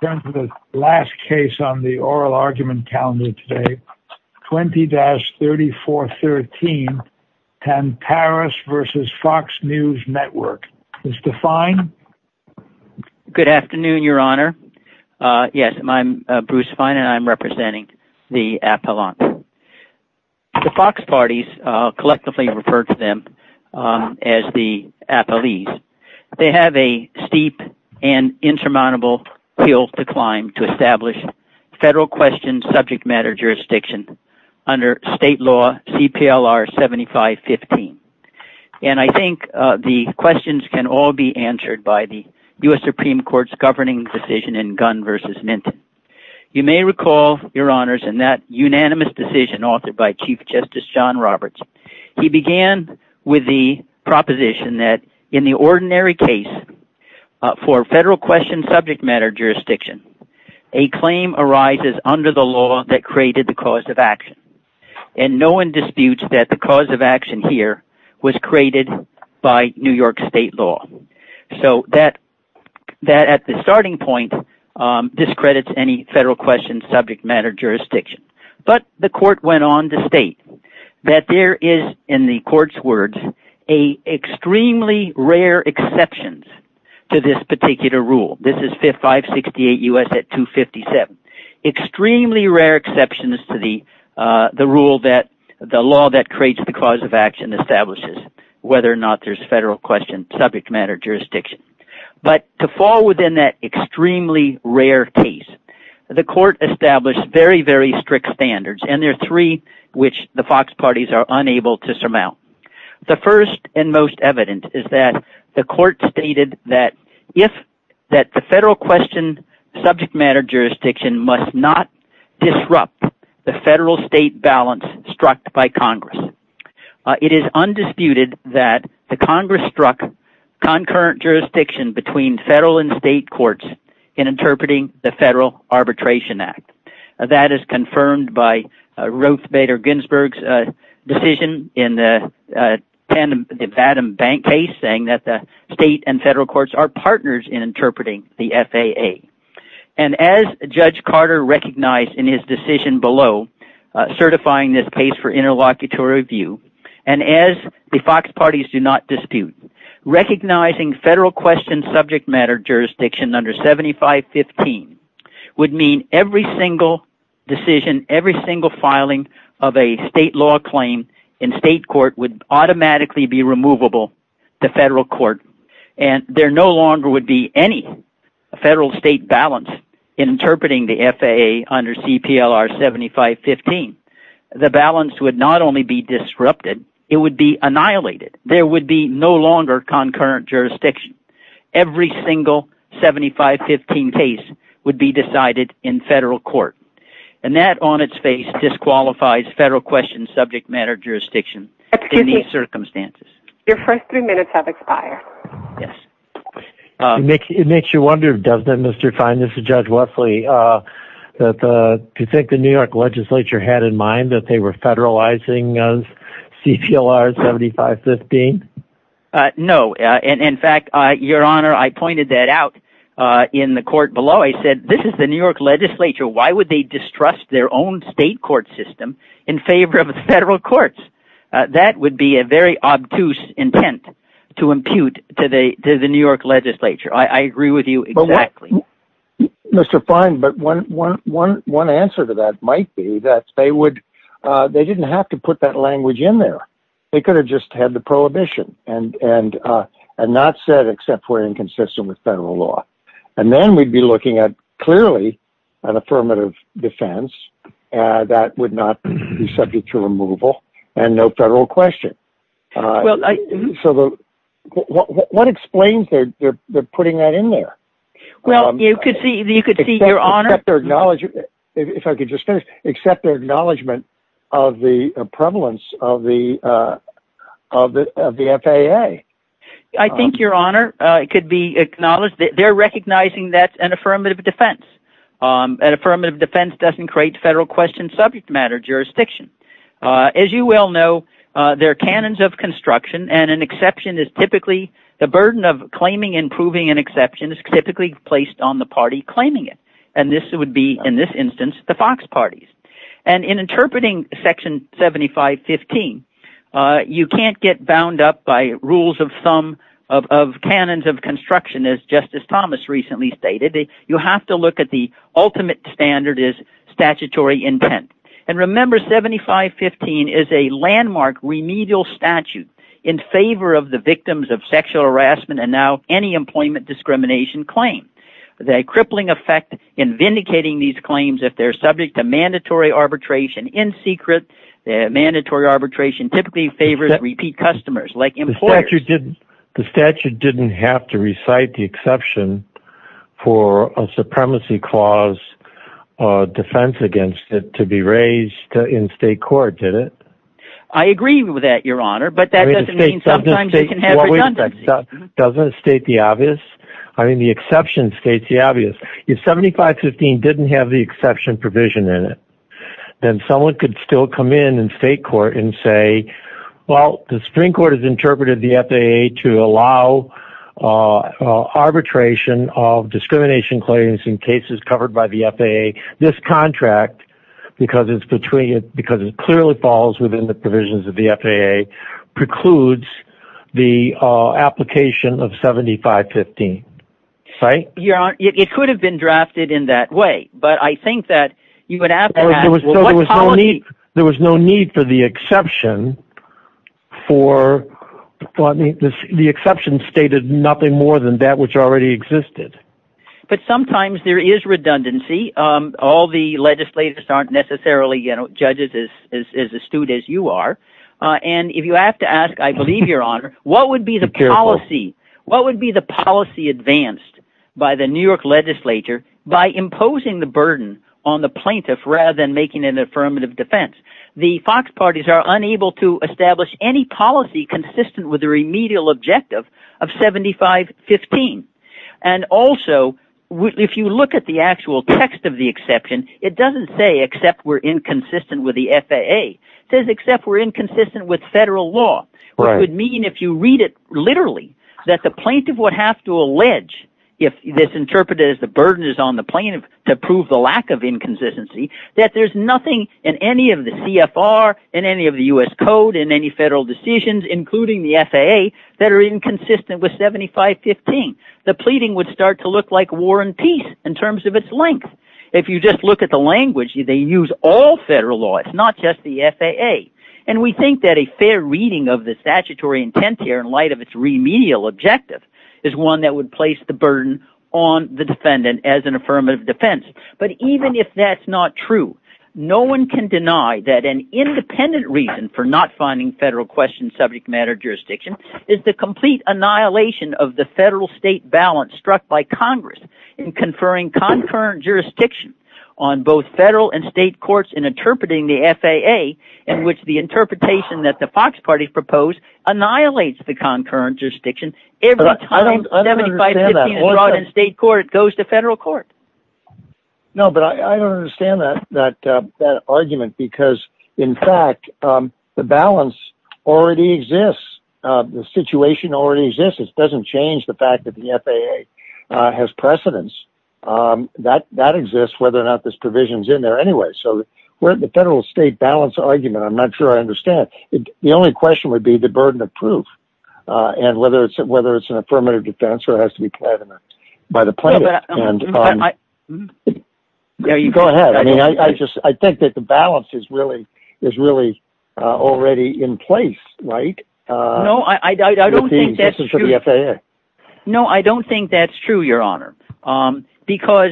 Good afternoon, your honor, yes, I'm Bruce Fine and I'm representing the Appellant. The Fox parties, collectively referred to them as the Appellees, they have a steep and to establish Federal Question Subject Matter Jurisdiction under State Law CPLR 7515, and I think the questions can all be answered by the U.S. Supreme Court's governing decision in Gunn v. Minton. You may recall, your honors, in that unanimous decision authored by Chief Justice John Roberts, he began with the proposition that in the ordinary case for Federal Question Subject Matter Jurisdiction, a claim arises under the law that created the cause of action, and no one disputes that the cause of action here was created by New York State law. So that at the starting point discredits any Federal Question Subject Matter Jurisdiction, but the court went on to state that there is, in the court's words, an extremely rare exceptions to this particular rule, this is 568 U.S. at 257, extremely rare exceptions to the rule that the law that creates the cause of action establishes whether or not there's Federal Question Subject Matter Jurisdiction, but to fall within that extremely rare case, the court established very, very strict standards, and there are three which the Fox parties are unable to surmount. The first and most evident is that the court stated that if the Federal Question Subject Matter Jurisdiction must not disrupt the Federal-State balance struck by Congress, it is undisputed that the Congress struck concurrent jurisdiction between Federal and State courts in interpreting the Federal Arbitration Act. That is confirmed by Ruth Bader Ginsburg's decision in the Tandem Bank case saying that the State and Federal courts are partners in interpreting the FAA, and as Judge Carter recognized in his decision below certifying this case for interlocutory review, and as the Fox parties do not dispute, recognizing Federal Question Subject Matter Jurisdiction under 7515 would mean every single decision, every single filing of a State law claim in State court would automatically be removable to Federal court, and there no longer would be any Federal-State balance interpreting the FAA under CPLR 7515. The balance would not only be disrupted, it would be annihilated. There would be no longer concurrent jurisdiction. Every single 7515 case would be decided in Federal court, and that on its face disqualifies Federal Question Subject Matter Jurisdiction in these circumstances. Your first three minutes have expired. It makes you wonder, doesn't it, Mr. Fein, this is Judge Wesley, that you think the New York Legislature would distrust their own State court system in favor of Federal courts? That would be a very obtuse intent to impute to the New York Legislature, I agree with you exactly. Mr. Fein, but one answer to that might be that they didn't have to put that language in there. They could have just had the prohibition, and not said, except for inconsistent with Federal law. And then we'd be looking at, clearly, an affirmative defense that would not be subject to removal, and no Federal question. What explains their putting that in there? If I could just finish, except their acknowledgment of the prevalence of the FAA. I think, Your Honor, it could be acknowledged that they're recognizing that's an affirmative defense. An affirmative defense doesn't create Federal Question Subject Matter Jurisdiction. As you well know, there are canons of construction, and an exception is typically the burden of approving an exception is typically placed on the party claiming it, and this would be, in this instance, the Fox Party. In interpreting Section 7515, you can't get bound up by rules of thumb of canons of construction, as Justice Thomas recently stated. You have to look at the ultimate standard as statutory intent. Remember, 7515 is a landmark remedial statute in favor of the victims of sexual harassment, and now any employment discrimination claim. The crippling effect in vindicating these claims, if they're subject to mandatory arbitration in secret, mandatory arbitration typically favors repeat customers, like employers. The statute didn't have to recite the exception for a supremacy clause defense against it to be raised in state court, did it? I agree with that, Your Honor, but that doesn't mean sometimes you can have redundancy. It doesn't state the obvious. I mean, the exception states the obvious. If 7515 didn't have the exception provision in it, then someone could still come in in state court and say, well, the Supreme Court has interpreted the FAA to allow arbitration of discrimination claims in cases covered by the FAA. This contract, because it clearly falls within the provisions of the FAA, precludes the application of 7515, right? It could have been drafted in that way, but I think that you would have to ask, what policy? There was no need for the exception. The exception stated nothing more than that which already existed. But sometimes there is redundancy. All the legislators aren't necessarily judges as astute as you are, and if you have to ask, I believe, Your Honor, what would be the policy advanced by the New York legislature by imposing the burden on the plaintiff rather than making an affirmative defense? The Fox parties are unable to establish any policy consistent with the remedial objective of 7515, and also if you look at the actual text of the exception, it doesn't say except we're inconsistent with the FAA, it says except we're inconsistent with federal law. It would mean if you read it literally that the plaintiff would have to allege, if this interpreted as the burden is on the plaintiff to prove the lack of inconsistency, that there's nothing in any of the CFR, in any of the US code, in any federal decisions, including the FAA, that are inconsistent with 7515. The pleading would start to look like war and peace in terms of its length. If you just look at the language, they use all federal law, it's not just the FAA, and we think that a fair reading of the statutory intent here in light of its remedial objective is one that would place the burden on the defendant as an affirmative defense, but even if that's not true, no one can deny that an independent reason for not finding federal question subject matter jurisdiction is the complete annihilation of the federal state balance struck by Congress in conferring concurrent jurisdiction on both federal and state courts in interpreting the FAA, in which the interpretation that the Fox Party proposed annihilates the concurrent jurisdiction every time 7515 is brought in state court, it goes to federal court. No, but I don't understand that argument, because in fact, the balance already exists, the situation already exists, it doesn't change the fact that the FAA has precedence. That exists whether or not this provision's in there anyway. So the federal state balance argument, I'm not sure I understand. The only question would be the burden of proof, and whether it's an affirmative defense or has to be pledged by the plaintiff. Go ahead, I think that the balance is really already in place, right? No, I don't think that's true, Your Honor, because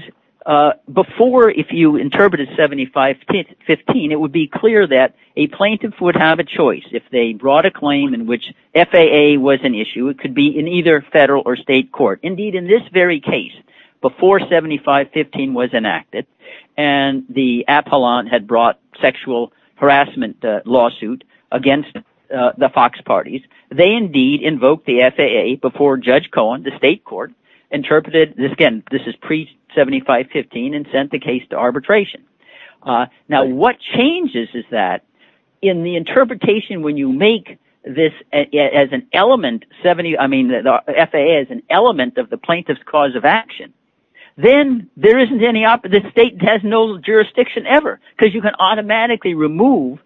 before, if you interpreted 7515, it would be clear that a plaintiff would have a choice if they brought a claim in which FAA was an issue, it could be in either federal or state court. Indeed, in this very case, before 7515 was enacted, and the appellant had brought sexual harassment lawsuit against the Fox Party, they indeed invoked the FAA before Judge Cohen, the state court, interpreted, again, this is pre-7515, and sent the case to arbitration. Now what changes is that, in the interpretation when you make this as an element, I mean, the FAA is an element of the plaintiff's cause of action, then the state has no jurisdiction ever, because you can automatically remove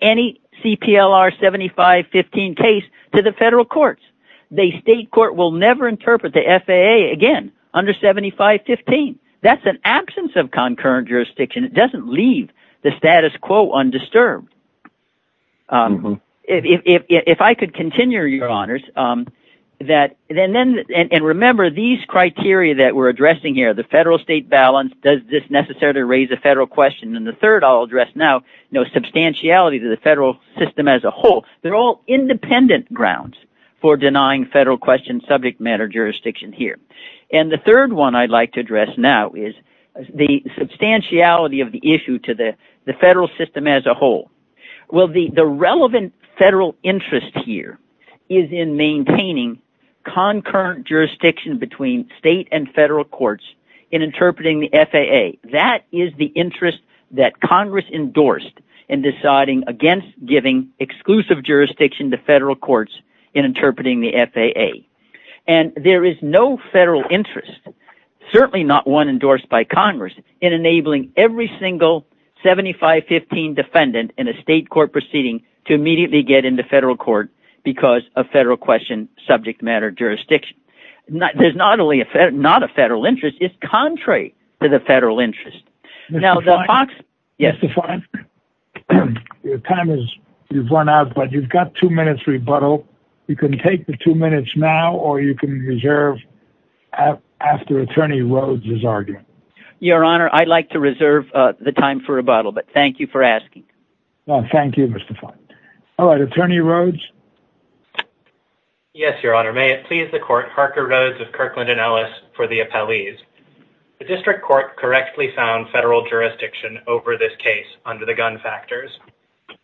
any CPLR 7515 case to the federal courts. The state court will never interpret the FAA again under 7515. That's an absence of concurrent jurisdiction, it doesn't leave the status quo undisturbed. If I could continue, Your Honors, and remember these criteria that we're addressing here, the federal-state balance, does this necessarily raise a federal question, and the third I'll address now, substantiality to the federal system as a whole, they're all independent grounds for denying federal question subject matter jurisdiction here. The third one I'd like to address now is the substantiality of the issue to the federal system as a whole. Well the relevant federal interest here is in maintaining concurrent jurisdiction between state and federal courts in interpreting the FAA. That is the interest that Congress endorsed in deciding against giving exclusive jurisdiction to federal courts in interpreting the FAA. And there is no federal interest, certainly not one endorsed by Congress, in enabling every single 7515 defendant in a state court proceeding to immediately get into federal court because of federal question subject matter jurisdiction. There's not only not a federal interest, it's contrary to the federal interest. Mr. Fine, your time has run out, but you've got two minutes rebuttal. You can take the two minutes now, or you can reserve after Attorney Rhodes' argument. Your Honor, I'd like to reserve the time for rebuttal, but thank you for asking. Thank you, Mr. Fine. All right, Attorney Rhodes? Yes, Your Honor, may it please the court, Harker Rhodes of Kirkland & Ellis, for the appellees. The district court correctly found federal jurisdiction over this case under the gun factors.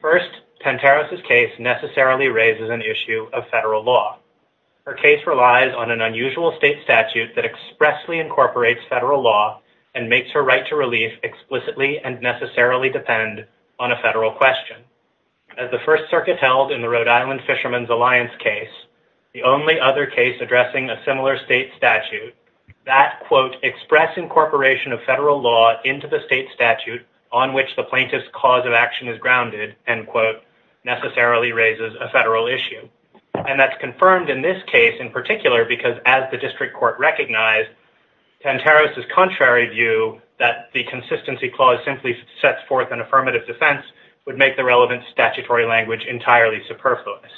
First, Panteros' case necessarily raises an issue of federal law. Her case relies on an unusual state statute that expressly incorporates federal law and makes her right to relief explicitly and necessarily depend on a federal question. As the First Circuit held in the Rhode Island Fisherman's Alliance case, the only other case addressing a similar state statute, that, quote, express incorporation of federal law into the state statute on which the plaintiff's cause of action is grounded, end quote, necessarily raises a federal issue. And that's confirmed in this case in particular because, as the district court recognized, Panteros' contrary view that the consistency clause simply sets forth an affirmative defense would make the relevant statutory language entirely superfluous.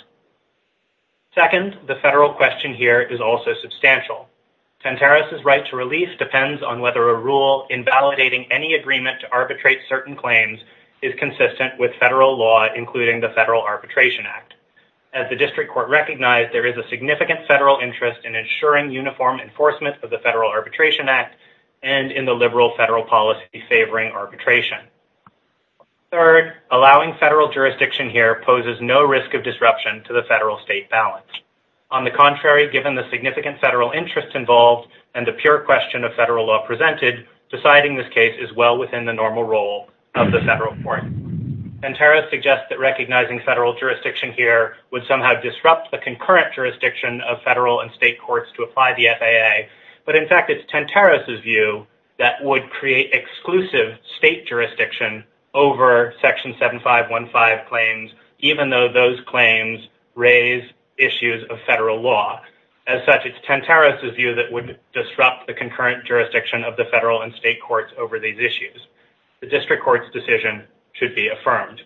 Second, the federal question here is also substantial. Panteros' right to release depends on whether a rule invalidating any agreement to arbitrate certain claims is consistent with federal law, including the Federal Arbitration Act. As the district court recognized, there is a significant federal interest in ensuring uniform enforcement of the Federal Arbitration Act and in the liberal federal policy favoring arbitration. Third, allowing federal jurisdiction here poses no risk of disruption to the federal state balance. On the contrary, given the significant federal interest involved and the pure question of federal law presented, deciding this case is well within the normal role of the federal court. Panteros suggests that recognizing federal jurisdiction here would somehow disrupt the concurrent jurisdiction of federal and state courts to apply the FAA. But in fact, it's Panteros' view that would create exclusive state jurisdiction over Section 7515 claims, even though those claims raise issues of federal law. As such, it's Panteros' view that would disrupt the concurrent jurisdiction of the federal and state courts over these issues. The district court's decision should be affirmed.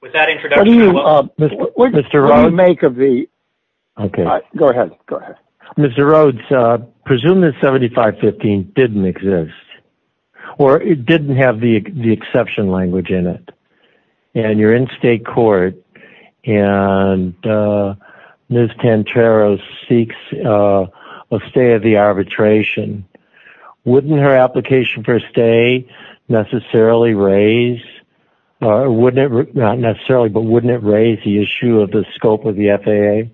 With that introduction, what do you make of the. OK, go ahead. Go ahead. Mr. Rhodes, presume that 7515 didn't exist or it didn't have the exception language in it. And you're in state court and Ms. Panteros seeks a stay of the arbitration. Wouldn't her application for a stay necessarily raise or would it not necessarily, but wouldn't it raise the issue of the scope of the FAA?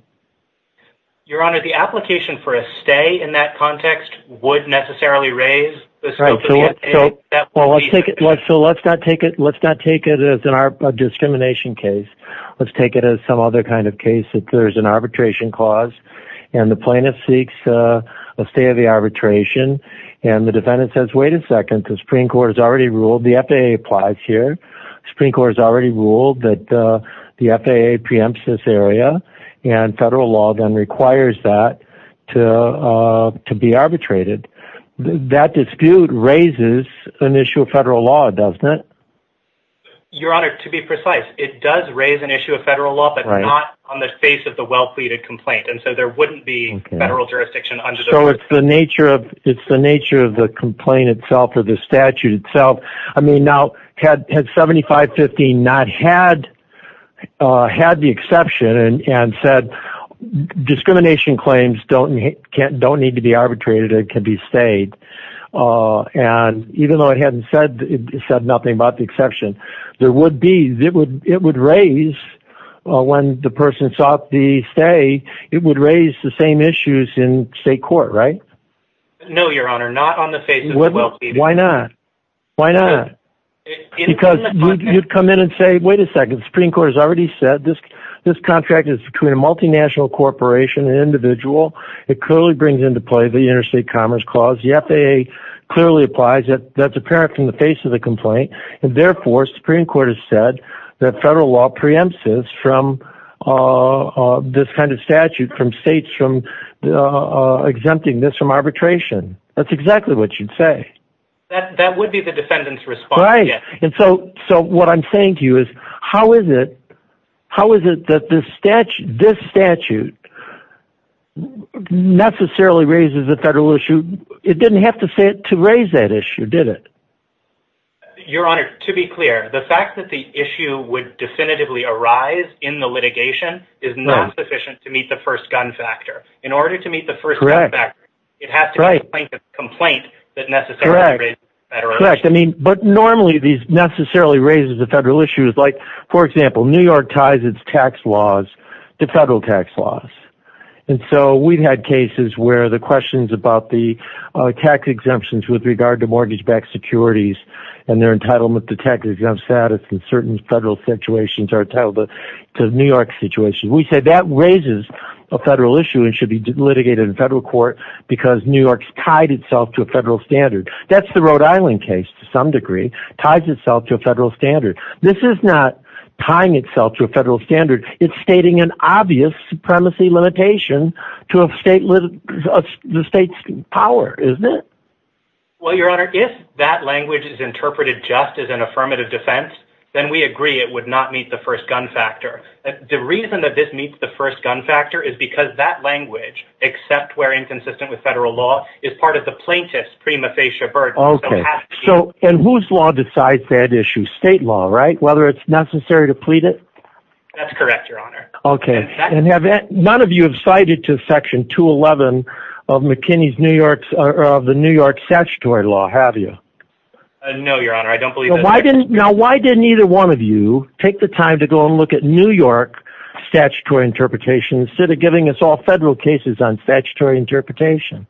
Your Honor, the application for a stay in that context would necessarily raise the scope of the FAA. Well, let's take it. So let's not take it. Let's not take it as a discrimination case. Let's take it as some other kind of case that there is an arbitration clause and the jurisdiction and the defendant says, wait a second, the Supreme Court has already ruled the FAA applies here. Supreme Court has already ruled that the FAA preempts this area and federal law then requires that to to be arbitrated. That dispute raises an issue of federal law, doesn't it? Your Honor, to be precise, it does raise an issue of federal law, but not on the face of the well pleaded complaint. And so there wouldn't be federal jurisdiction. So it's the nature of it's the nature of the complaint itself or the statute itself. I mean, now had 7550 not had had the exception and said discrimination claims don't don't need to be arbitrated, it could be stayed. And even though it hadn't said it said nothing about the exception, there would be it would it would raise when the person sought the stay. It would raise the same issues in state court. Right. No, Your Honor. Not on the face. Why not? Why not? Because you'd come in and say, wait a second. Supreme Court has already said this. This contract is between a multinational corporation and individual. It clearly brings into play the interstate commerce clause. The FAA clearly applies it. That's apparent from the face of the complaint. And therefore, Supreme Court has said that federal law preempts us from this kind of statute, from states, from exempting this from arbitration. That's exactly what you'd say. That that would be the defendant's response. Right. And so so what I'm saying to you is, how is it how is it that this statute, this statute necessarily raises a federal issue? It didn't have to say it to raise that issue, did it? Your Honor, to be clear, the fact that the issue would definitively arise in the litigation is not sufficient to meet the first gun factor in order to meet the first correct back. It has to be a complaint that necessarily raises the federal issue. I mean, but normally these necessarily raises the federal issues. Like, for example, New York ties its tax laws to federal tax laws. And so we've had cases where the questions about the tax exemptions with regard to securities and their entitlement to tax exempt status in certain federal situations are entitled to New York situation. We say that raises a federal issue and should be litigated in federal court because New York's tied itself to a federal standard. That's the Rhode Island case to some degree ties itself to a federal standard. This is not tying itself to a federal standard. It's stating an obvious supremacy limitation to a state with the state's power, isn't it? Well, Your Honor, if that language is interpreted just as an affirmative defense, then we agree it would not meet the first gun factor. The reason that this meets the first gun factor is because that language, except where inconsistent with federal law, is part of the plaintiff's prima facie burden. So and whose law decides that issue? State law, right? Whether it's necessary to plead it. That's correct, Your Honor. OK. And have none of you have cited to Section 211 of McKinney's New York or of the New York statutory law, have you? No, Your Honor, I don't believe. Why didn't. Now, why didn't either one of you take the time to go and look at New York statutory interpretation instead of giving us all federal cases on statutory interpretation?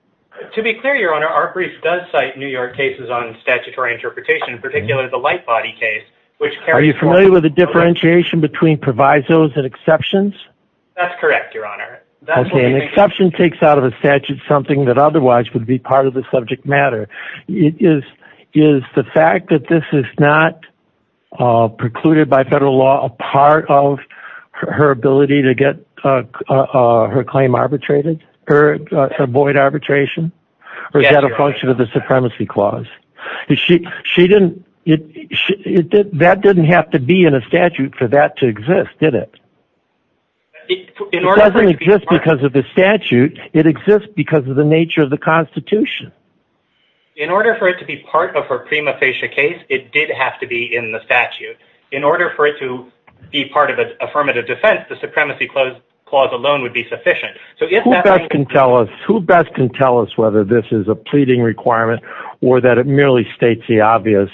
To be clear, Your Honor, our brief does cite New York cases on statutory interpretation, particularly the light body case, which are you familiar with the differentiation between provisos and exceptions? That's correct, Your Honor. That's an exception takes out of a statute something that otherwise would be part of the subject matter is is the fact that this is not precluded by federal law, a part of her ability to get her claim arbitrated or avoid arbitration or is that a function of the supremacy clause? She she didn't it. That didn't have to be in a statute for that to exist, did it? In order to exist because of the statute, it exists because of the nature of the institution. In order for it to be part of her prima facie case, it did have to be in the statute in order for it to be part of an affirmative defense, the supremacy clause alone would be sufficient. So if that can tell us who best can tell us whether this is a pleading requirement or that it merely states the obvious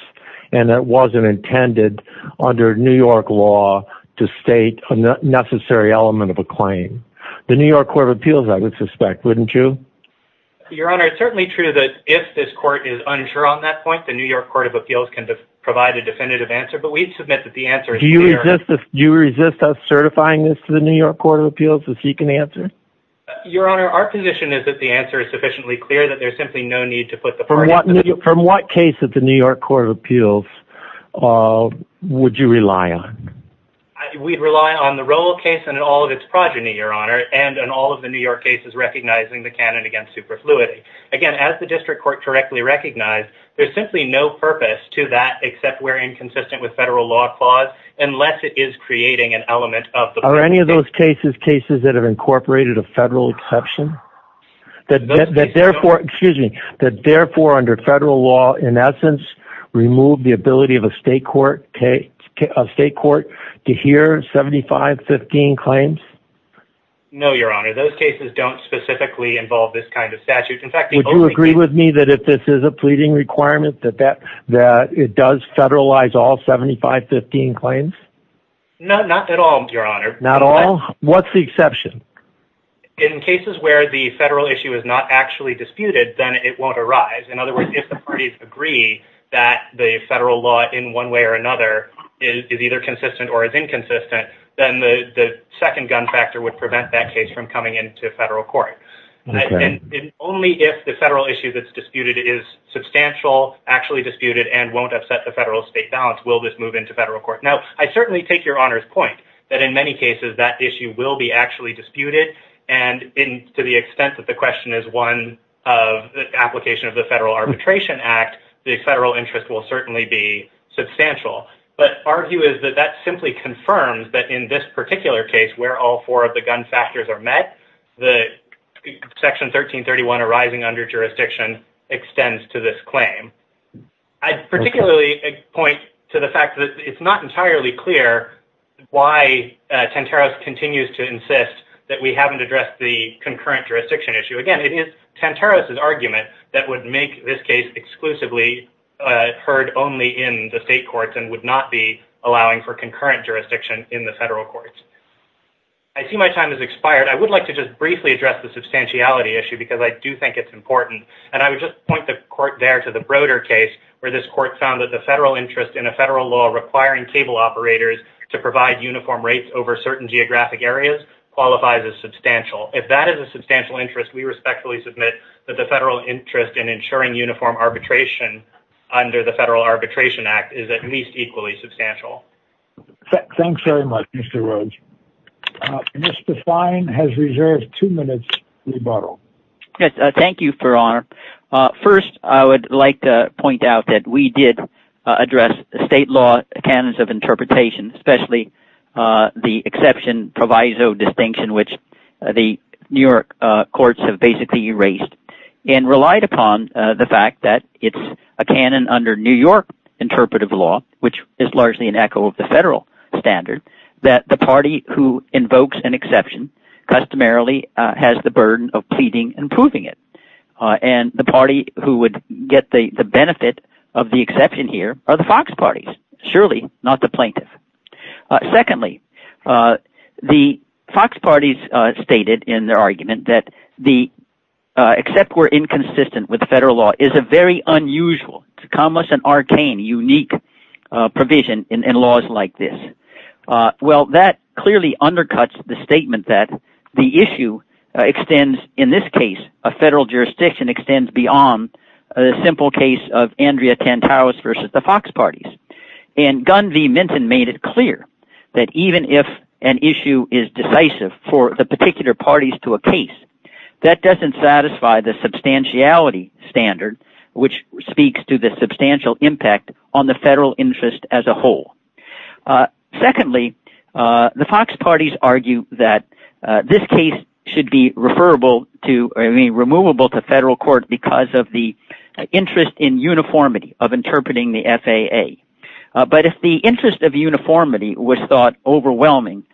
and that wasn't intended under New York law to state a necessary element of a claim, the New York Court of Appeals, I would suspect, wouldn't you? Your Honor, it's certainly true that if this court is unsure on that point, the New York Court of Appeals can provide a definitive answer. But we submit that the answer is, do you resist us certifying this to the New York Court of Appeals if you can answer? Your Honor, our position is that the answer is sufficiently clear that there's simply no need to put the from what from what case of the New York Court of Appeals would you rely on? We rely on the roll case and all of its progeny, Your Honor, and and all of the New York case for fluidity. Again, as the district court correctly recognized, there's simply no purpose to that except where inconsistent with federal law clause, unless it is creating an element of the. Are any of those cases, cases that have incorporated a federal exception that that therefore, excuse me, that therefore under federal law, in essence, remove the ability of a state court, a state court to hear 7515 claims? No, Your Honor, those cases don't specifically involve this kind of statute. In fact, would you agree with me that if this is a pleading requirement that that that it does federalize all 7515 claims? No, not at all, Your Honor. Not all. What's the exception? In cases where the federal issue is not actually disputed, then it won't arise. In other words, if the parties agree that the federal law in one way or another is either consistent or is inconsistent, then the second gun factor would prevent that case from coming into federal court. And only if the federal issue that's disputed is substantial, actually disputed and won't upset the federal state balance, will this move into federal court. Now, I certainly take Your Honor's point that in many cases that issue will be actually disputed. And to the extent that the question is one of the application of the Federal Arbitration Act, the federal interest will certainly be substantial. But our view is that that simply confirms that in this particular case, where all four of the gun factors are met, the Section 1331 arising under jurisdiction extends to this claim. I'd particularly point to the fact that it's not entirely clear why Tantaros continues to insist that we haven't addressed the concurrent jurisdiction issue. Again, it is Tantaros' argument that would make this case exclusively heard only in the state courts and would not be allowing for concurrent jurisdiction in the federal courts. I see my time has expired. I would like to just briefly address the substantiality issue because I do think it's important. And I would just point the court there to the Broder case, where this court found that the federal interest in a federal law requiring cable operators to provide uniform rates over certain geographic areas qualifies as substantial. If that is a substantial interest, we respectfully submit that the federal interest in ensuring uniform arbitration under the Federal Arbitration Act is at least equally substantial. Thanks very much, Mr. Rhodes. Mr. Fine has reserved two minutes rebuttal. Thank you for honor. First, I would like to point out that we did address state law canons of interpretation, especially the exception proviso distinction, which the New York courts have basically erased and relied upon the fact that it's a canon under New York interpretive law, which is largely an echo of the federal standard, that the party who invokes an exception customarily has the burden of pleading and proving it. And the party who would get the benefit of the exception here are the Fox parties, surely not the plaintiff. Secondly, the Fox parties stated in their argument that the except we're inconsistent with the federal law is a very unusual, commas and arcane, unique provision in laws like this. Well, that clearly undercuts the statement that the issue extends. In this case, a federal jurisdiction extends beyond a simple case of Andrea Tantalus versus the Fox parties. And Gun V. Minton made it clear that even if an issue is decisive for the particular parties to a case that doesn't satisfy the substantiality standard, which speaks to the substantial impact on the federal interest as a whole. Secondly, the Fox parties argue that this case should be referable to any removable to federal court because of the interest in uniformity of interpreting the FAA. But if the interest of uniformity was thought overwhelming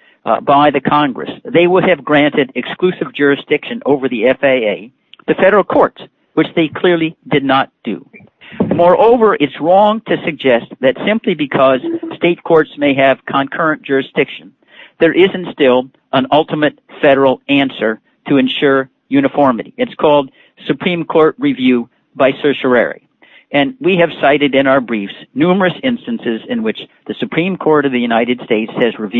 by the Congress, they would have granted exclusive jurisdiction over the FAA, the federal courts, which they clearly did not do. Moreover, it's wrong to suggest that simply because state courts may have concurrent jurisdiction, there isn't still an ultimate federal answer to ensure uniformity. It's called Supreme Court review by certiorari. And we have cited in our briefs numerous instances in which the Supreme Court of the Supreme Court of the United States has not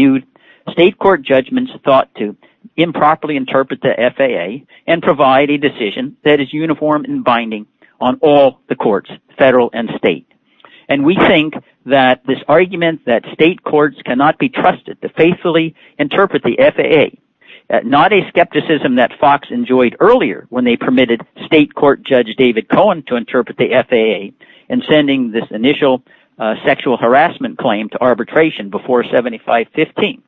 been able to properly interpret the FAA and provide a decision that is uniform and binding on all the courts, federal and state. And we think that this argument that state courts cannot be trusted to faithfully interpret the FAA, not a skepticism that Fox enjoyed earlier when they permitted state court Judge David Cohen to interpret the FAA and sending this initial sexual harassment claim to arbitration before 1975-15.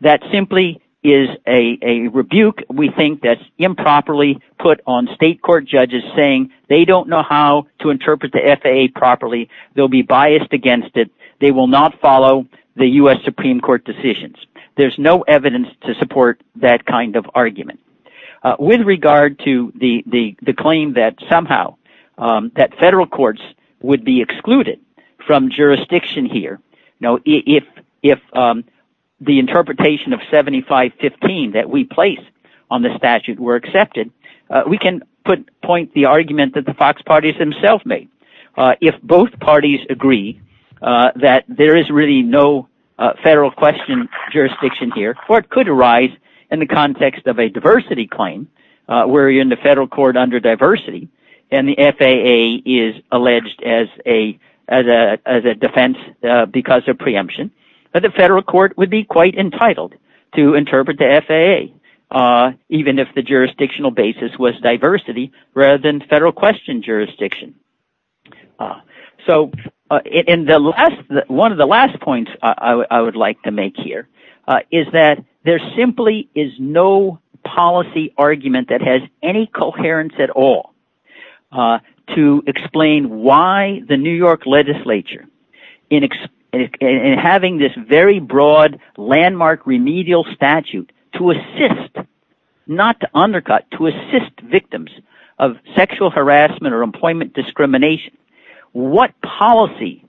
That simply is a rebuke. We think that's improperly put on state court judges saying they don't know how to interpret the FAA properly. They'll be biased against it. They will not follow the U.S. Supreme Court decisions. There's no evidence to support that kind of argument with regard to the claim that somehow that federal courts would be excluded from jurisdiction here. Now, if if the interpretation of 75-15 that we placed on the statute were accepted, we can put point the argument that the Fox party's himself made. If both parties agree that there is really no federal question jurisdiction here, court could arise in the context of a diversity claim where you're in the federal court under diversity and the FAA is alleged as a as a defense because of preemption. But the federal court would be quite entitled to interpret the FAA, even if the jurisdictional basis was diversity rather than federal question jurisdiction. So in the last one of the last points I would like to make here is that there simply is no policy argument that has any coherence at all to explain why the New York legislature in having this very broad landmark remedial statute to assist, not to undercut, to assist victims of sexual harassment or employment discrimination. What policy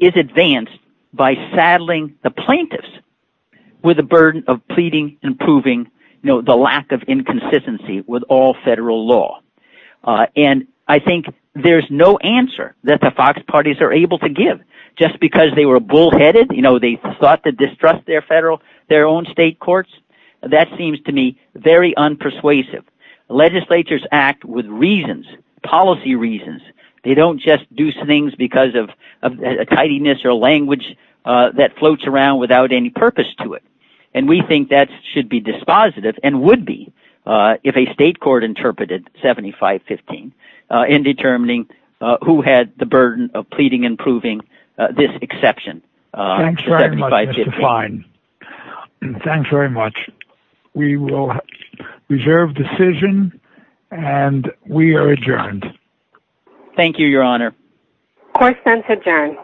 is advanced by saddling the plaintiffs with the burden of pleading and proving the lack of inconsistency with all federal law? And I think there's no answer that the Fox parties are able to give just because they were bullheaded. You know, they thought to distrust their federal, their own state courts. That seems to me very unpersuasive. Legislatures act with reasons, policy reasons. They don't just do things because of a tidiness or language that floats around without any purpose to it. And we think that should be dispositive and would be if a state court interpreted 7515 in determining who had the burden of pleading and proving this exception. Thanks very much. Thanks very much. We will reserve decision and we are adjourned. Thank you, Your Honor. Court is adjourned.